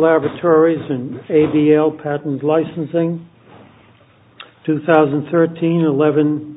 LABORATORIES AND ABL PATENT LICENSING 2013-11-86. This video was made in Cooperation with the U.S. Department of Labor. The claims in this case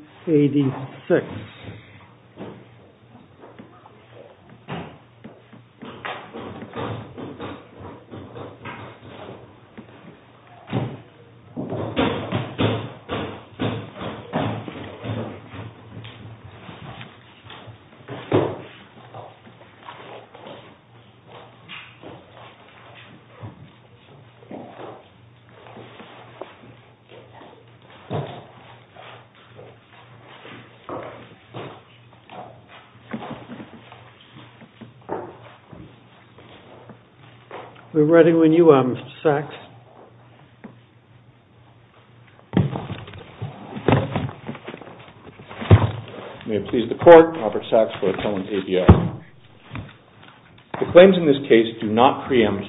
do not preempt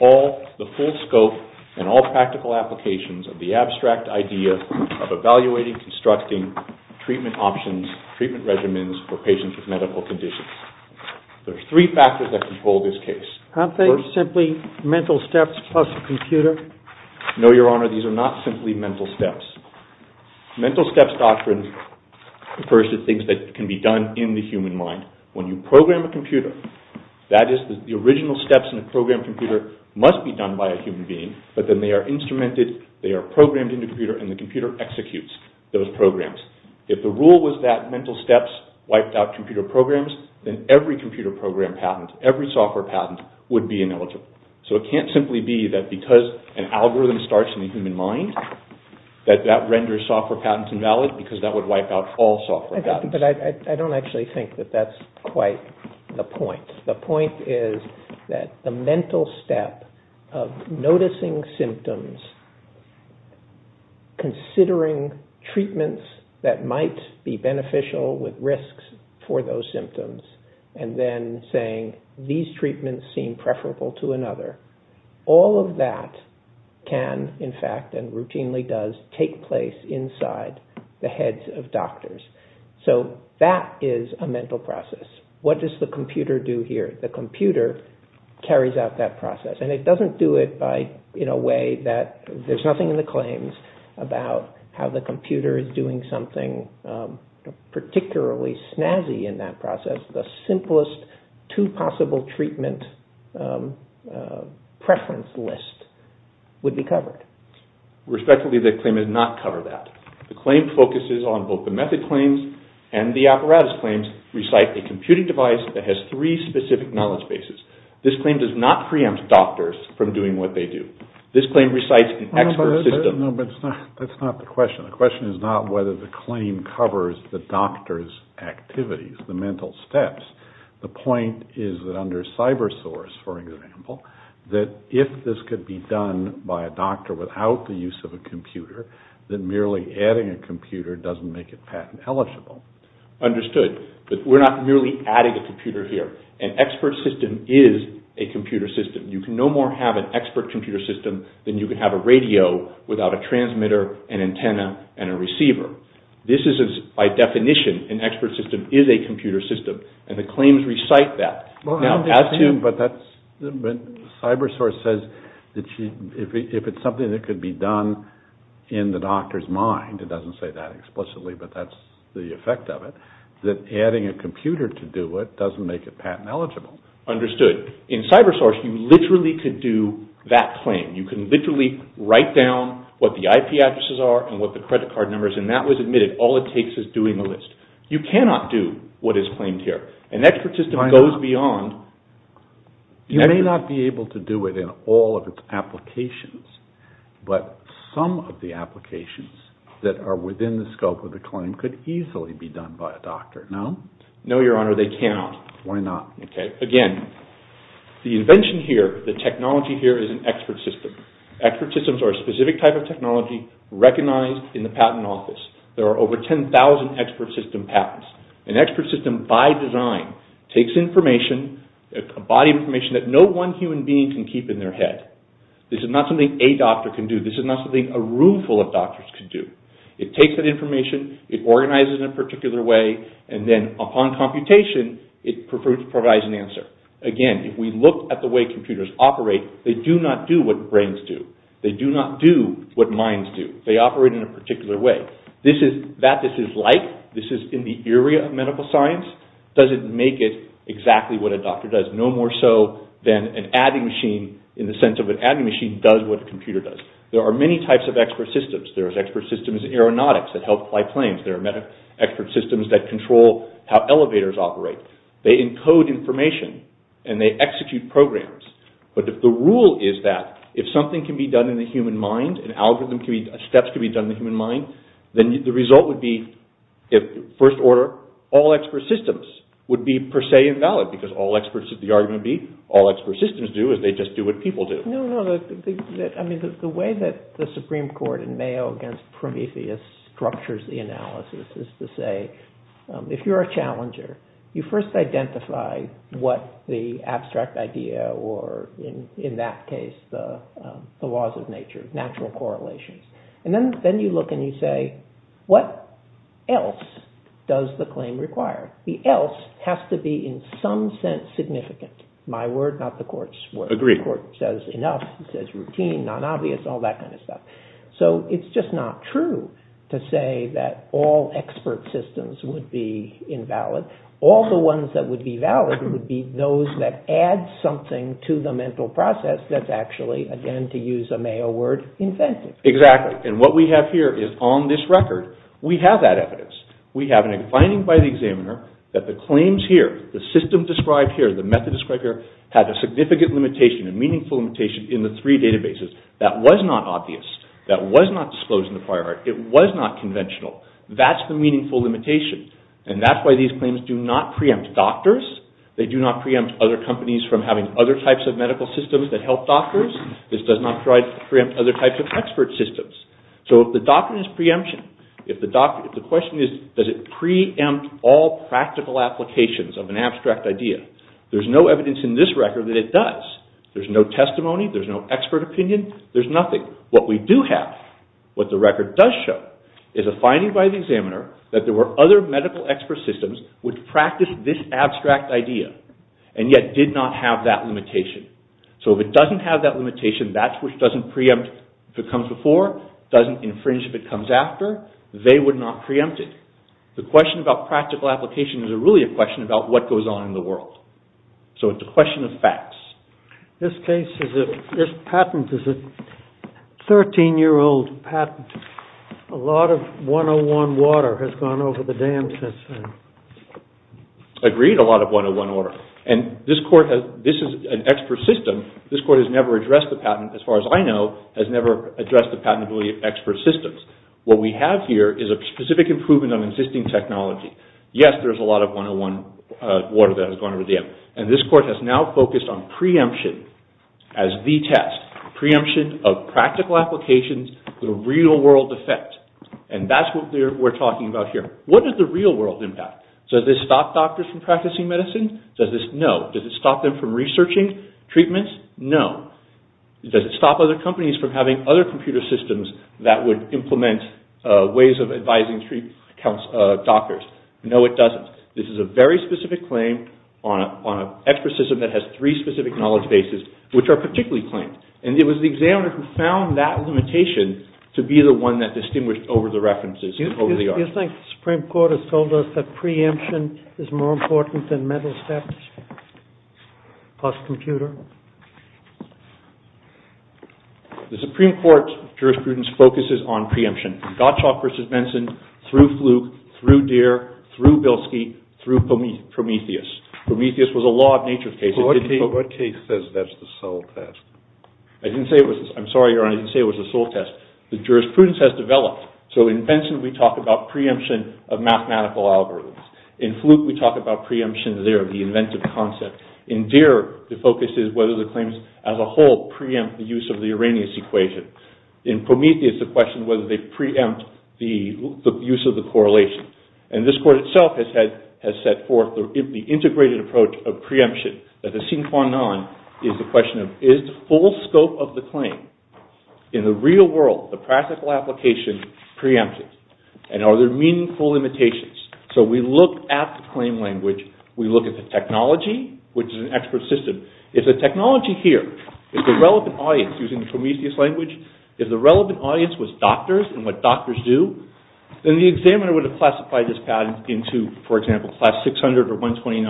all the full scope and all practical applications of the abstract idea of evaluating, constructing treatment options, treatment regimens for medical conditions. There are three factors that control this case. Aren't they simply mental steps plus a computer? No, Your Honor, these are not simply mental steps. The mental steps doctrine refers to things that can be done in the human mind. When you program a computer, that is, the original steps in a programmed computer must be done by a human being, but then they are instrumented, they are programmed in the computer, and the computer executes those programs. If the rule was that mental steps wiped out computer programs, then every computer program patent, every software patent, would be ineligible. So it can't simply be that because an algorithm starts in the human mind, that that renders software patents invalid, because that would wipe out all software patents. But I don't actually think that that's quite the point. The point is that the mental step of noticing symptoms, considering treatments that might be beneficial with risks for those symptoms, and then saying, these treatments seem preferable to another, all of that can, in fact, and routinely does, take place inside the heads of doctors. So that is a mental process. What does the computer do here? The computer carries out that process. And it doesn't do it in a way that there's nothing in the claims about how the computer is doing something particularly snazzy in that process. The simplest two possible treatment preference lists would be covered. Respectively, the claim does not cover that. The claim focuses on both the method claims and the apparatus claims, recite a computing device that has three specific knowledge bases. This claim does not preempt doctors from doing what they do. This claim recites an expert system. No, but that's not the question. The question is not whether the claim covers the doctor's activities, the mental steps. The point is that under cyber source, for example, that if this could be done by a doctor without the use of a computer, then merely adding a computer doesn't make it patent eligible. Understood. But we're not merely adding a computer here. An expert system is a computer system. You can no more have an expert computer system than you can have a radio without a transmitter, an antenna, and a receiver. This is, by definition, an expert system is a computer system. And the claims recite that. But cyber source says that if it's something that could be done in the doctor's mind, it doesn't say that explicitly, but that's the effect of it, that adding a computer to do it doesn't make it patent eligible. Understood. In cyber source, you literally could do that claim. You can literally write down what the IP addresses are and what the credit card number is, and that was admitted. All it takes is doing the list. You cannot do what is claimed here. An expert system goes beyond. You may not be able to do it in all of its applications, but some of the applications that are within the scope of the claim could easily be done by a doctor. No? No, Your Honor. They cannot. Why not? Again, the invention here, the technology here is an expert system. Expert systems are a specific type of technology recognized in the patent office. There are over 10,000 expert system patents. An expert system by design takes information, a body of information that no one human being can keep in their head. This is not something a doctor can do. This is not something a room full of doctors can do. It takes that information, it organizes it in a particular way, and then upon computation, it provides an answer. Again, if we look at the way computers operate, they do not do what brains do. They do not do what minds do. They operate in a particular way. That this is like, this is in the area of medical science, doesn't make it exactly what a doctor does, no more so than an adding machine in the sense of an adding machine does what a computer does. There are many types of expert systems. There are expert systems in aeronautics that help fly planes. There are expert systems that control how elevators operate. They encode information, and they execute programs. But if the rule is that if something can be done in the human mind, an algorithm can be, steps can be done in the human mind, then the result would be, first order, all expert systems would be per se invalid because all experts, the argument would be, all expert systems do is they just do what people do. No, no, I mean the way that the Supreme Court in Mayo against Prometheus structures the analysis is to say if you're a challenger, you first identify what the abstract idea, or in that case the laws of nature, natural correlations. And then you look and you say, what else does the claim require? The else has to be in some sense significant. My word, not the court's word. The court says enough. It says routine, non-obvious, all that kind of stuff. So it's just not true to say that all expert systems would be invalid. All the ones that would be valid would be those that add something to the mental process that's actually, again, to use a Mayo word, inventive. Exactly. And what we have here is on this record, we have that evidence. We have a finding by the examiner that the claims here, the system described here, the method described here, had a significant limitation, a meaningful limitation, in the three databases that was not obvious, that was not disclosed in the prior art, it was not conventional. That's the meaningful limitation. And that's why these claims do not preempt doctors. They do not preempt other companies from having other types of medical systems that help doctors. This does not preempt other types of expert systems. So the doctrine is preemption. The question is, does it preempt all practical applications of an abstract idea? There's no evidence in this record that it does. There's no testimony. There's no expert opinion. There's nothing. What we do have, what the record does show, is a finding by the examiner that there were other medical expert systems which practiced this abstract idea and yet did not have that limitation. So if it doesn't have that limitation, that's which doesn't preempt if it comes before, doesn't infringe if it comes after. They would not preempt it. The question about practical application is really a question about what goes on in the world. So it's a question of facts. This patent is a 13-year-old patent. A lot of 101 water has gone over the dam since then. Agreed, a lot of 101 water. And this is an expert system. This court has never addressed the patent, as far as I know, has never addressed the patentability of expert systems. What we have here is a specific improvement on existing technology. Yes, there's a lot of 101 water that has gone over the dam. And this court has now focused on preemption as the test, preemption of practical applications, the real-world effect. And that's what we're talking about here. What is the real-world impact? Does this stop doctors from practicing medicine? No. Does it stop them from researching treatments? No. Does it stop other companies from having other computer systems that would implement ways of advising doctors? No, it doesn't. This is a very specific claim on an expert system that has three specific knowledge bases, which are particularly claimed. And it was the examiner who found that limitation to be the one that distinguished over the references, over the art. Do you think the Supreme Court has told us that preemption is more important than mental steps plus computer? The Supreme Court's jurisprudence focuses on preemption. Gottschalk v. Benson, through Fluke, through Deere, through Bilski, through Prometheus. Prometheus was a law of nature case. What case says that's the sole test? I'm sorry, Your Honor, I didn't say it was the sole test. The jurisprudence has developed. So in Benson, we talk about preemption of mathematical algorithms. In Fluke, we talk about preemption there, the inventive concept. In Deere, the focus is whether the claims as a whole preempt the use of the Arrhenius equation. In Prometheus, the question is whether they preempt the use of the correlation. And this court itself has set forth the integrated approach of preemption. That the sinque non is the question of, is the full scope of the claim, in the real world, the practical application, preempted? And are there meaningful limitations? So we look at the claim language. We look at the technology, which is an expert system. If the technology here is the relevant audience using the Prometheus language, if the relevant audience was doctors and what doctors do, then the examiner would have classified this patent into, for example, class 600 or 129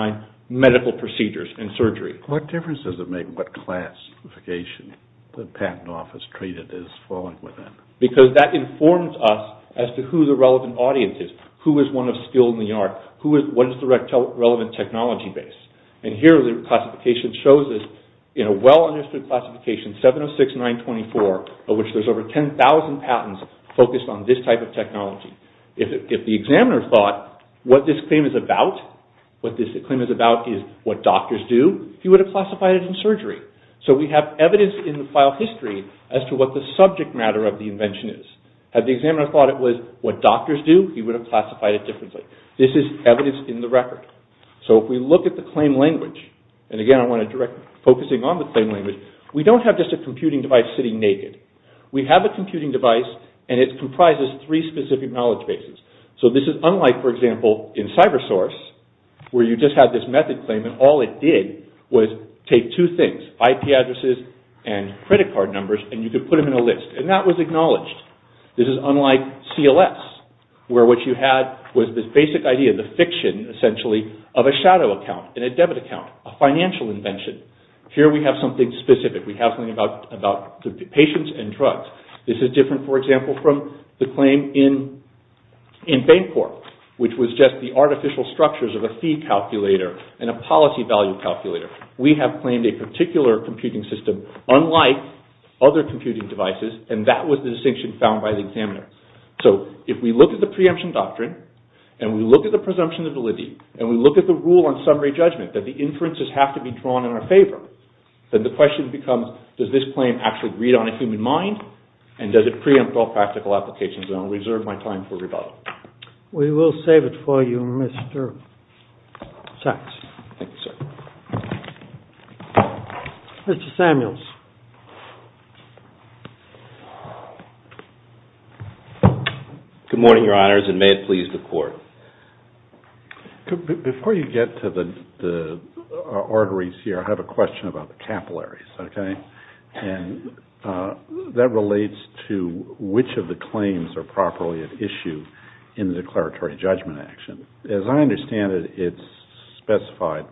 medical procedures and surgery. What difference does it make what classification the patent office treated as falling within? Because that informs us as to who the relevant audience is. Who is one of skill in the art? What is the relevant technology base? And here, the classification shows us, in a well-understood classification, 706 924, of which there's over 10,000 patents focused on this type of technology. If the examiner thought what this claim is about, what this claim is about is what doctors do, he would have classified it in surgery. So we have evidence in the file history as to what the subject matter of the invention is. Had the examiner thought it was what doctors do, he would have classified it differently. This is evidence in the record. So if we look at the claim language, and again, I want to direct focusing on the claim language, we don't have just a computing device sitting naked. We have a computing device, and it comprises three specific knowledge bases. So this is unlike, for example, in CyberSource, where you just had this method claim, and all it did was take two things, IP addresses and credit card numbers, and you could put them in a list. And that was acknowledged. This is unlike CLS, where what you had was this basic idea, the fiction, essentially, of a shadow account, and a debit account, a financial invention. Here we have something specific. We have something about patients and drugs. This is different, for example, from the claim in Bancorp, which was just the artificial structures of a fee calculator and a policy value calculator. We have claimed a particular computing system unlike other computing devices, and that was the distinction found by the examiner. So if we look at the preemption doctrine, and we look at the presumption of validity, and we look at the rule on summary judgment, that the inferences have to be drawn in our favor, then the question becomes, does this claim actually read on a human mind, and does it preempt all practical applications? And I'll reserve my time for rebuttal. We will save it for you, Mr. Sachs. Thank you, sir. Mr. Samuels. Good morning, Your Honors, and may it please the Court. Before you get to the arteries here, I have a question about the capillaries, okay? And that relates to which of the claims are properly at issue in the declaratory judgment action. As I understand it, it's specified,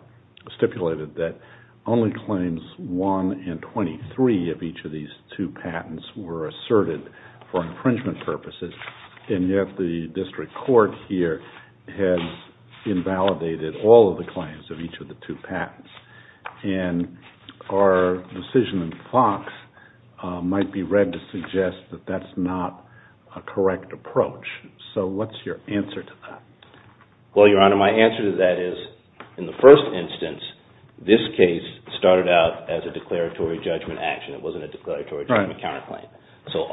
stipulated that only claims 1 and 23 of each of these two patents were asserted for infringement purposes, and yet the district court here has invalidated all of the claims of each of the two patents. And our decision in Fox might be read to suggest that that's not a correct approach. So what's your answer to that? Well, Your Honor, my answer to that is, in the first instance, this case started out as a declaratory judgment action. It wasn't a declaratory judgment counterclaim. So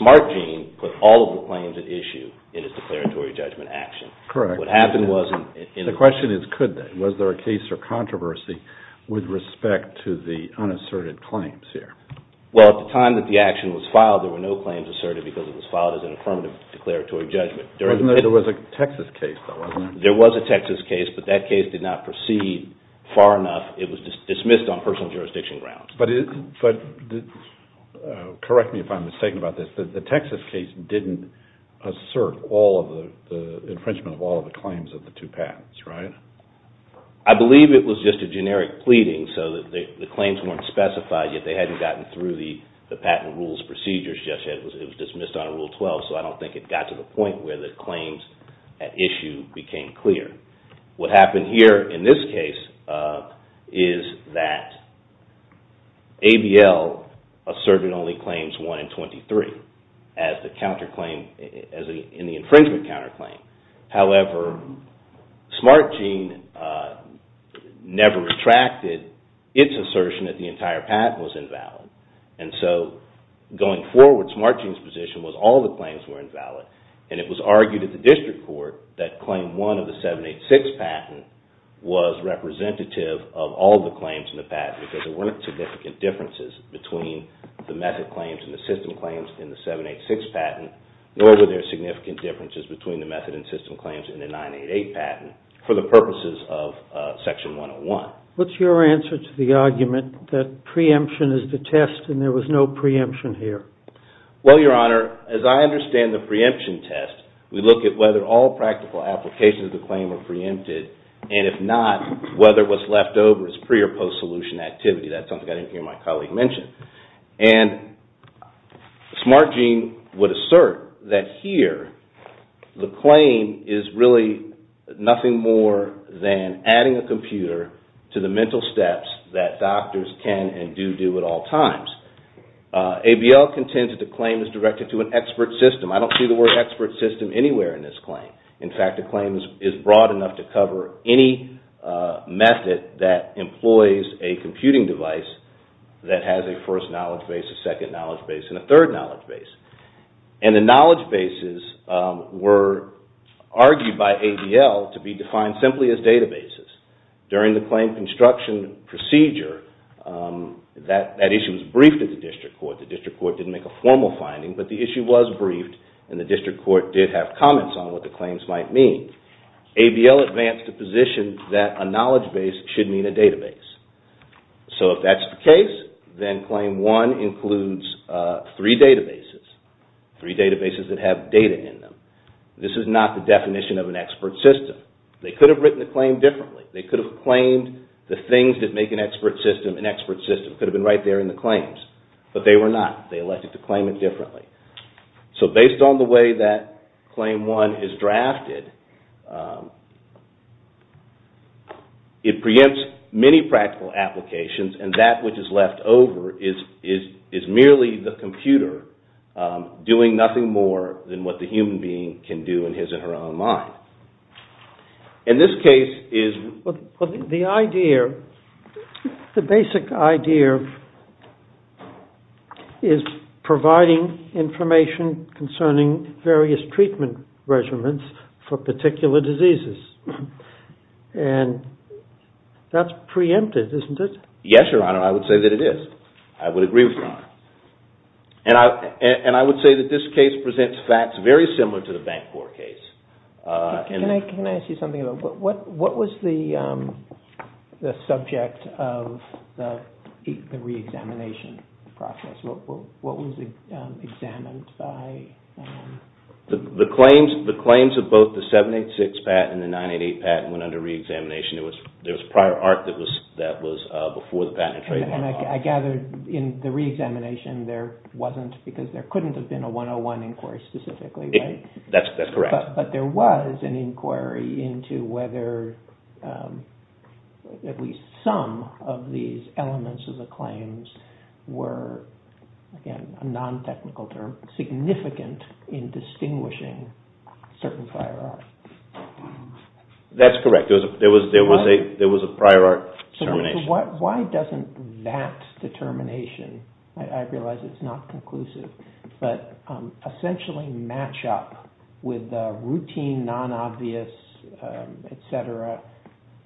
Smart Gene put all of the claims at issue in its declaratory judgment action. Correct. The question is, could they? Was there a case or controversy with respect to the unasserted claims here? Well, at the time that the action was filed, there were no claims asserted because it was filed as an affirmative declaratory judgment. There was a Texas case, though, wasn't there? There was a Texas case, but that case did not proceed far enough. It was dismissed on personal jurisdiction grounds. Correct me if I'm mistaken about this. The Texas case didn't assert the infringement of all of the claims of the two patents, right? I believe it was just a generic pleading so that the claims weren't specified, yet they hadn't gotten through the patent rules procedures. It was dismissed under Rule 12, so I don't think it got to the point where the claims at issue became clear. What happened here in this case is that ABL asserted only Claims 1 and 23 in the infringement counterclaim. However, Smart Gene never retracted its assertion that the entire patent was invalid. And so, going forward, Smart Gene's position was all the claims were invalid. And it was argued at the district court that Claim 1 of the 786 patent was representative of all the claims in the patent because there weren't significant differences between the method claims and the system claims in the 786 patent, nor were there significant differences between the method and system claims in the 988 patent for the purposes of Section 101. What's your answer to the argument that preemption is the test and there was no preemption here? Well, Your Honor, as I understand the preemption test, we look at whether all practical applications of the claim were preempted, and if not, whether what's left over is pre- or post-solution activity. That's something I didn't hear my colleague mention. And Smart Gene would assert that here, the claim is really nothing more than adding a computer to the mental steps that doctors can and do do at all times. ABL contends that the claim is directed to an expert system. I don't see the word expert system anywhere in this claim. In fact, the claim is broad enough to cover any method that employs a computing device that has a first knowledge base, a second knowledge base, and a third knowledge base. And the knowledge bases were argued by ABL to be defined simply as databases. During the claim construction procedure, that issue was briefed at the District Court. The District Court didn't make a formal finding, but the issue was briefed, and the District Court did have comments on what the claims might mean. ABL advanced a position that a knowledge base should mean a database. So if that's the case, then Claim 1 includes three databases. Three databases that have data in them. This is not the definition of an expert system. They could have written the claim differently. They could have claimed the things that make an expert system an expert system. It could have been right there in the claims. But they were not. They elected to claim it differently. So based on the way that Claim 1 is drafted, it preempts many practical applications, and that which is left over is merely the computer doing nothing more than what the human being can do in his or her own mind. In this case is... And that's preempted, isn't it? Yes, Your Honor. I would say that it is. I would agree with Your Honor. And I would say that this case presents facts very similar to the Bancorp case. Can I ask you something? What was the subject of the reexamination process? What was examined? What was the subject of the reexamination process? The claims of both the 786 patent and the 988 patent went under reexamination. There was prior art that was before the patent and trade law. And I gather in the reexamination there wasn't, because there couldn't have been a 101 inquiry specifically. That's correct. But there was an inquiry into whether at least some of these elements of the claims were, again, a non-technical term, significant in distinguishing certain prior art. That's correct. There was a prior art determination. Why doesn't that determination, I realize it's not conclusive, but essentially match up with the routine, non-obvious, et cetera,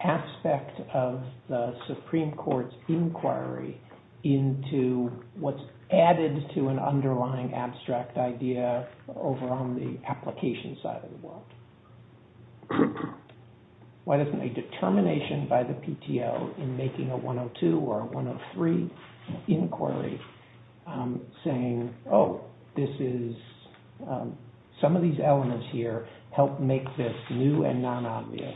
aspect of the Supreme Court's inquiry into what's added to an underlying abstract idea over on the application side of the world. Why doesn't a determination by the PTO in making a 102 or a 103 inquiry saying, oh, this is, some of these elements here help make this new and non-obvious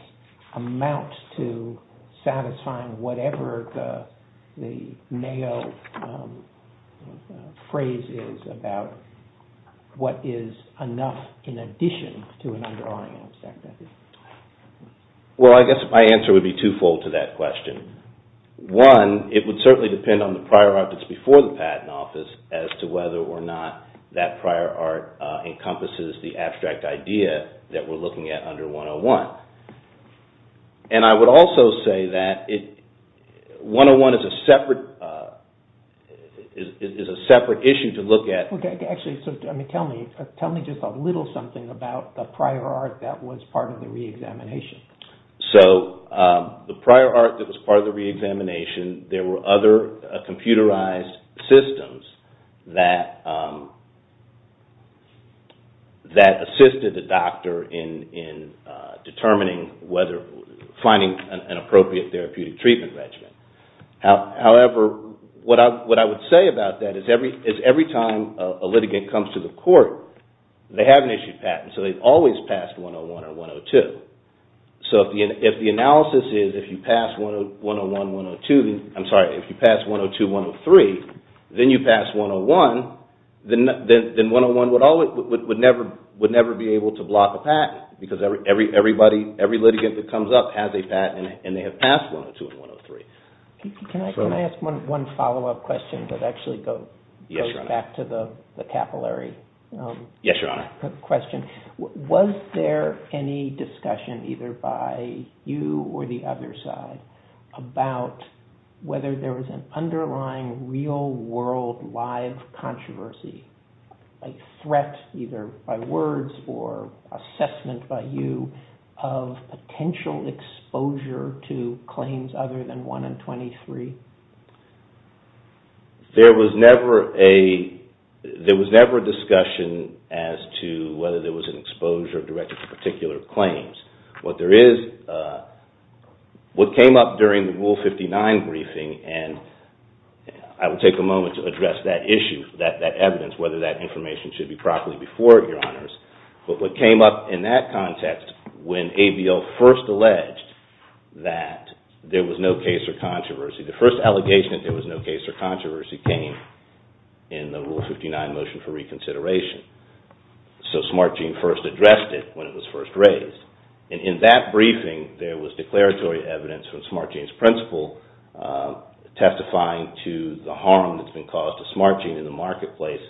amount to satisfying whatever the Mayo phrase is about what is enough in addition to an underlying abstract idea? Well, I guess my answer would be twofold to that question. One, it would certainly depend on the prior art that's before the patent office as to whether or not that prior art encompasses the abstract idea that we're And I would also say that 101 is a separate issue to look at. Actually, tell me just a little something about the prior art that was part of the re-examination. So, the prior art that was part of the re-examination, there were other computerized systems that assisted the doctor in determining whether, finding an appropriate therapeutic treatment regimen. However, what I would say about that is every time a litigant comes to the court, they haven't issued patents, so they've always passed 101 or 102. So, if the analysis is if you pass 101, 102, I'm sorry, if you pass 102, 103, then you pass 101, then 101 would never be able to block a patent because every litigant that comes up has a patent and they have passed 102 and 103. Can I ask one follow-up question that actually goes back to the capillary question? Yes, Your Honor. Was there any discussion either by you or the other side about whether there was an underlying real-world live controversy, a threat either by words or assessment by you of potential exposure to claims other than 1 and 23? There was never a discussion as to whether there was an exposure directed to particular claims. What came up during the Rule 59 briefing, and I will take a moment to address that issue, that evidence, whether that information should be properly before it, Your Honors, but what came up in that context when ABL first alleged that there was no case or controversy, the first allegation that there was no case or controversy came in the Rule 59 motion for reconsideration. So, Smart Gene first addressed it when it was first raised. In that briefing, there was declaratory evidence from Smart Gene's principle testifying to the harm that's been caused to Smart Gene in the marketplace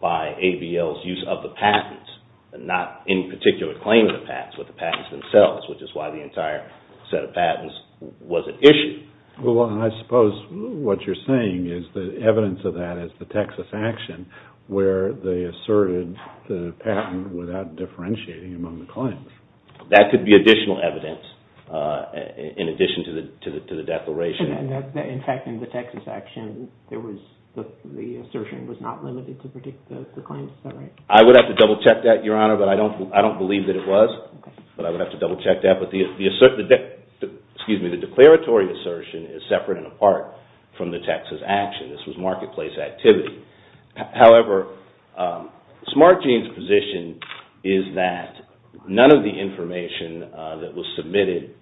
by ABL's use of the patents and not any particular claim of the patents, but the patents themselves, which is why the entire set of patents was at issue. Well, I suppose what you're saying is the evidence of that is the Texas action where they asserted the patent without differentiating among the claims. That could be additional evidence in addition to the declaration. In fact, in the Texas action, the assertion was not limited to predict the claims, is that right? I would have to double-check that, Your Honor, but I don't believe that it was, but I would have to double-check that. The declaratory assertion is separate and apart from the Texas action. This was marketplace activity. However, Smart Gene's position is that none of the information that was submitted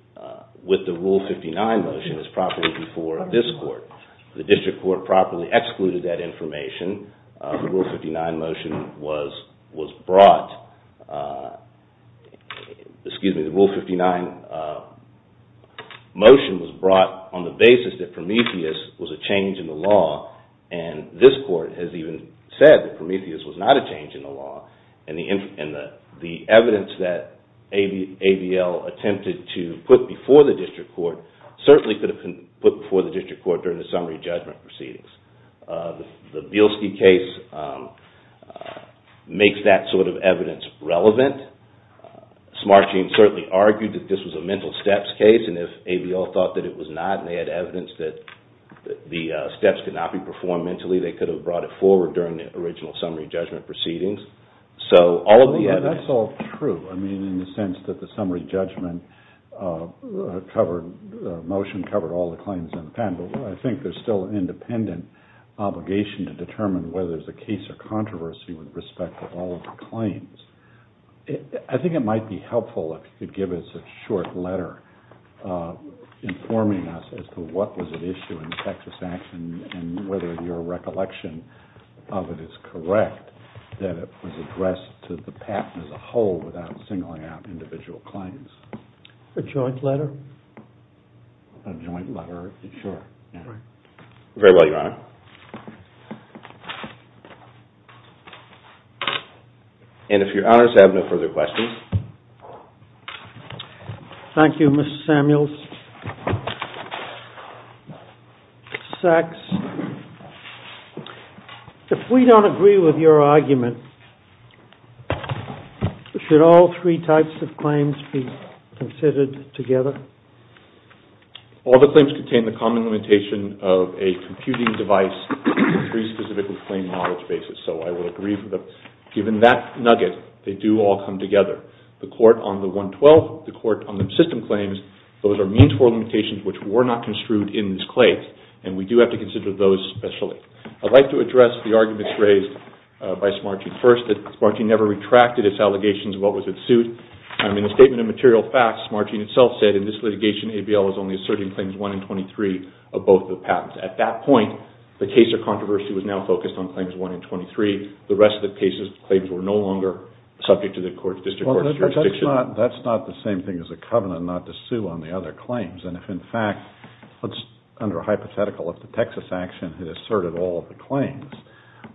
with the Rule 59 motion is properly before this court. The district court properly excluded that information. The Rule 59 motion was brought, excuse me, the Rule 59 motion was brought on the basis that Prometheus was a change in the law, and this court has even said that Prometheus was not a change in the law, and the evidence that AVL attempted to put before the district court certainly could have been put before the district court during the summary judgment proceedings. The Bielski case makes that sort of evidence relevant. Smart Gene certainly argued that this was a mental steps case, and if AVL thought that it was not and they had evidence that the steps could not be performed mentally, they could have brought it forward during the original summary judgment proceedings. That's all true, in the sense that the summary judgment motion covered all the claims in the patent, but I think there's still an independent obligation to determine whether there's a case or controversy with respect to all of the claims. I think it might be helpful if you could give us a short letter informing us as to what was at issue in the Texas Act and whether your recollection of it is correct that it was addressed to the patent as a whole without singling out individual claims. A joint letter? A joint letter, sure. Very well, Your Honor. And if Your Honors have no further questions. Thank you, Mr. Samuels. Mr. Sachs, if we don't agree with your argument, should all three types of claims be considered together? All the claims contain the common limitation of a computing device with three specifically claimed knowledge bases, so I will agree with that. Given that nugget, they do all come together. The court on the 112, the court on the system claims, those are means for limitations which were not construed in this claim, and we do have to consider those especially. I'd like to address the arguments raised by Smarching first, that Smarching never retracted its allegations of what was at suit. In a statement of material facts, Smarching itself said, in this litigation, ABL is only asserting claims 1 and 23 of both the patents. At that point, the case of controversy was now focused on claims 1 and 23. The rest of the cases, claims were no longer subject to the district court's jurisdiction. Well, that's not the same thing as a covenant not to sue on the other claims. And if, in fact, under hypothetical, if the Texas action had asserted all of the claims,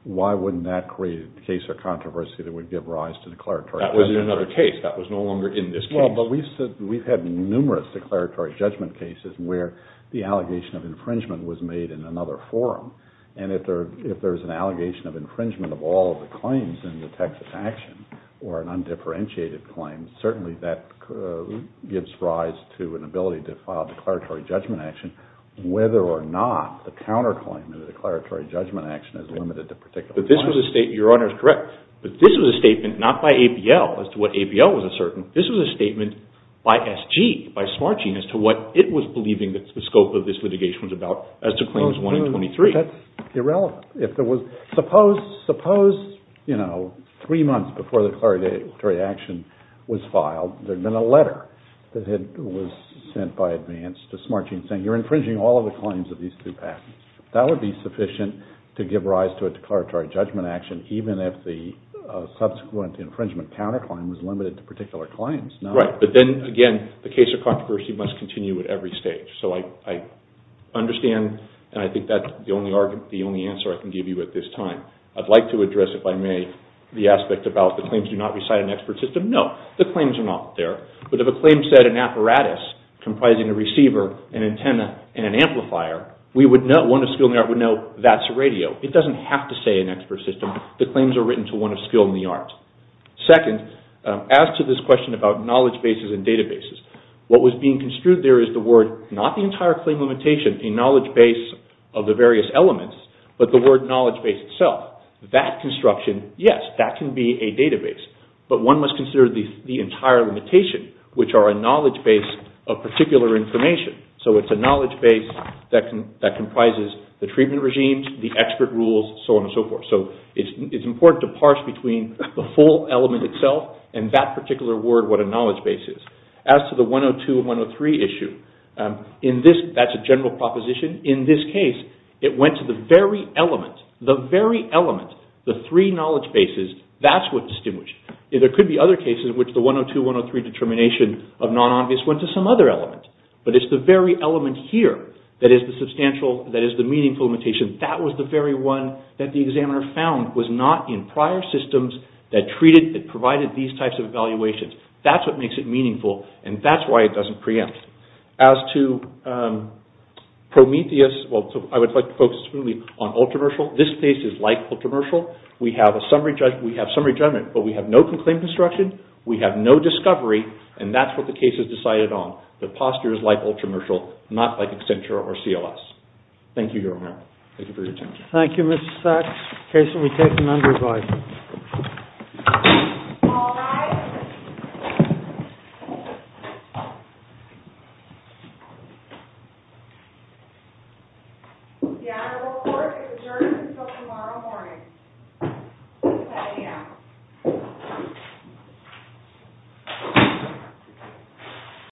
why wouldn't that create a case of controversy that would give rise to declaratory judgment? That was in another case. That was no longer in this case. Well, but we've had numerous declaratory judgment cases where the allegation of infringement was made in another forum. And if there is an allegation of infringement of all of the claims in the Texas action or an undifferentiated claim, certainly that gives rise to an ability to file declaratory judgment action, whether or not the counterclaim in the declaratory judgment action is limited to particular claims. But this was a statement. Your Honor is correct. But this was a statement not by ABL as to what ABL was asserting. This was a statement by SG, by Smarching, as to what it was believing that the scope of this litigation was about as to claims 1 and 23. That's irrelevant. Suppose three months before the declaratory action was filed, there had been a letter that was sent by advance to Smarching saying, you're infringing all of the claims of these two patents. That would be sufficient to give rise to a declaratory judgment action, even if the subsequent infringement counterclaim was limited to particular claims. Right, but then again, the case of controversy must continue at every stage. So I understand, and I think that's the only answer I can give you at this time. I'd like to address, if I may, the aspect about the claims do not reside in an expert system. No, the claims are not there. But if a claim said an apparatus comprising a receiver, an antenna, and an amplifier, we would know, one of skill in the art would know that's a radio. It doesn't have to say an expert system. The claims are written to one of skill in the art. Second, as to this question about knowledge bases and databases, what was being construed there is the word, not the entire claim limitation, a knowledge base of the various elements, but the word knowledge base itself. That construction, yes, that can be a database. But one must consider the entire limitation, which are a knowledge base of particular information. So it's a knowledge base that comprises the treatment regimes, the expert rules, so on and so forth. So it's important to parse between the full element itself and that particular word, what a knowledge base is. As to the 102 and 103 issue, that's a general proposition. In this case, it went to the very element, the very element, the three knowledge bases. That's what's distinguished. There could be other cases in which the 102, 103 determination of non-obvious went to some other element. But it's the very element here that is the substantial, that is the meaningful limitation. That was the very one that the examiner found was not in prior systems that treated, that provided these types of evaluations. That's what makes it meaningful, and that's why it doesn't preempt. As to Prometheus, I would like to focus on Ultramershal. This case is like Ultramershal. We have summary judgment, but we have no conclaimed construction, we have no discovery, and that's what the case is decided on. The posture is like Ultramershal, not like Accenture or CLS. Thank you, Your Honor. Thank you for your time. Thank you, Mr. Sachs. In case we take an undervote. The honorable court is adjourned until tomorrow morning at 7 a.m.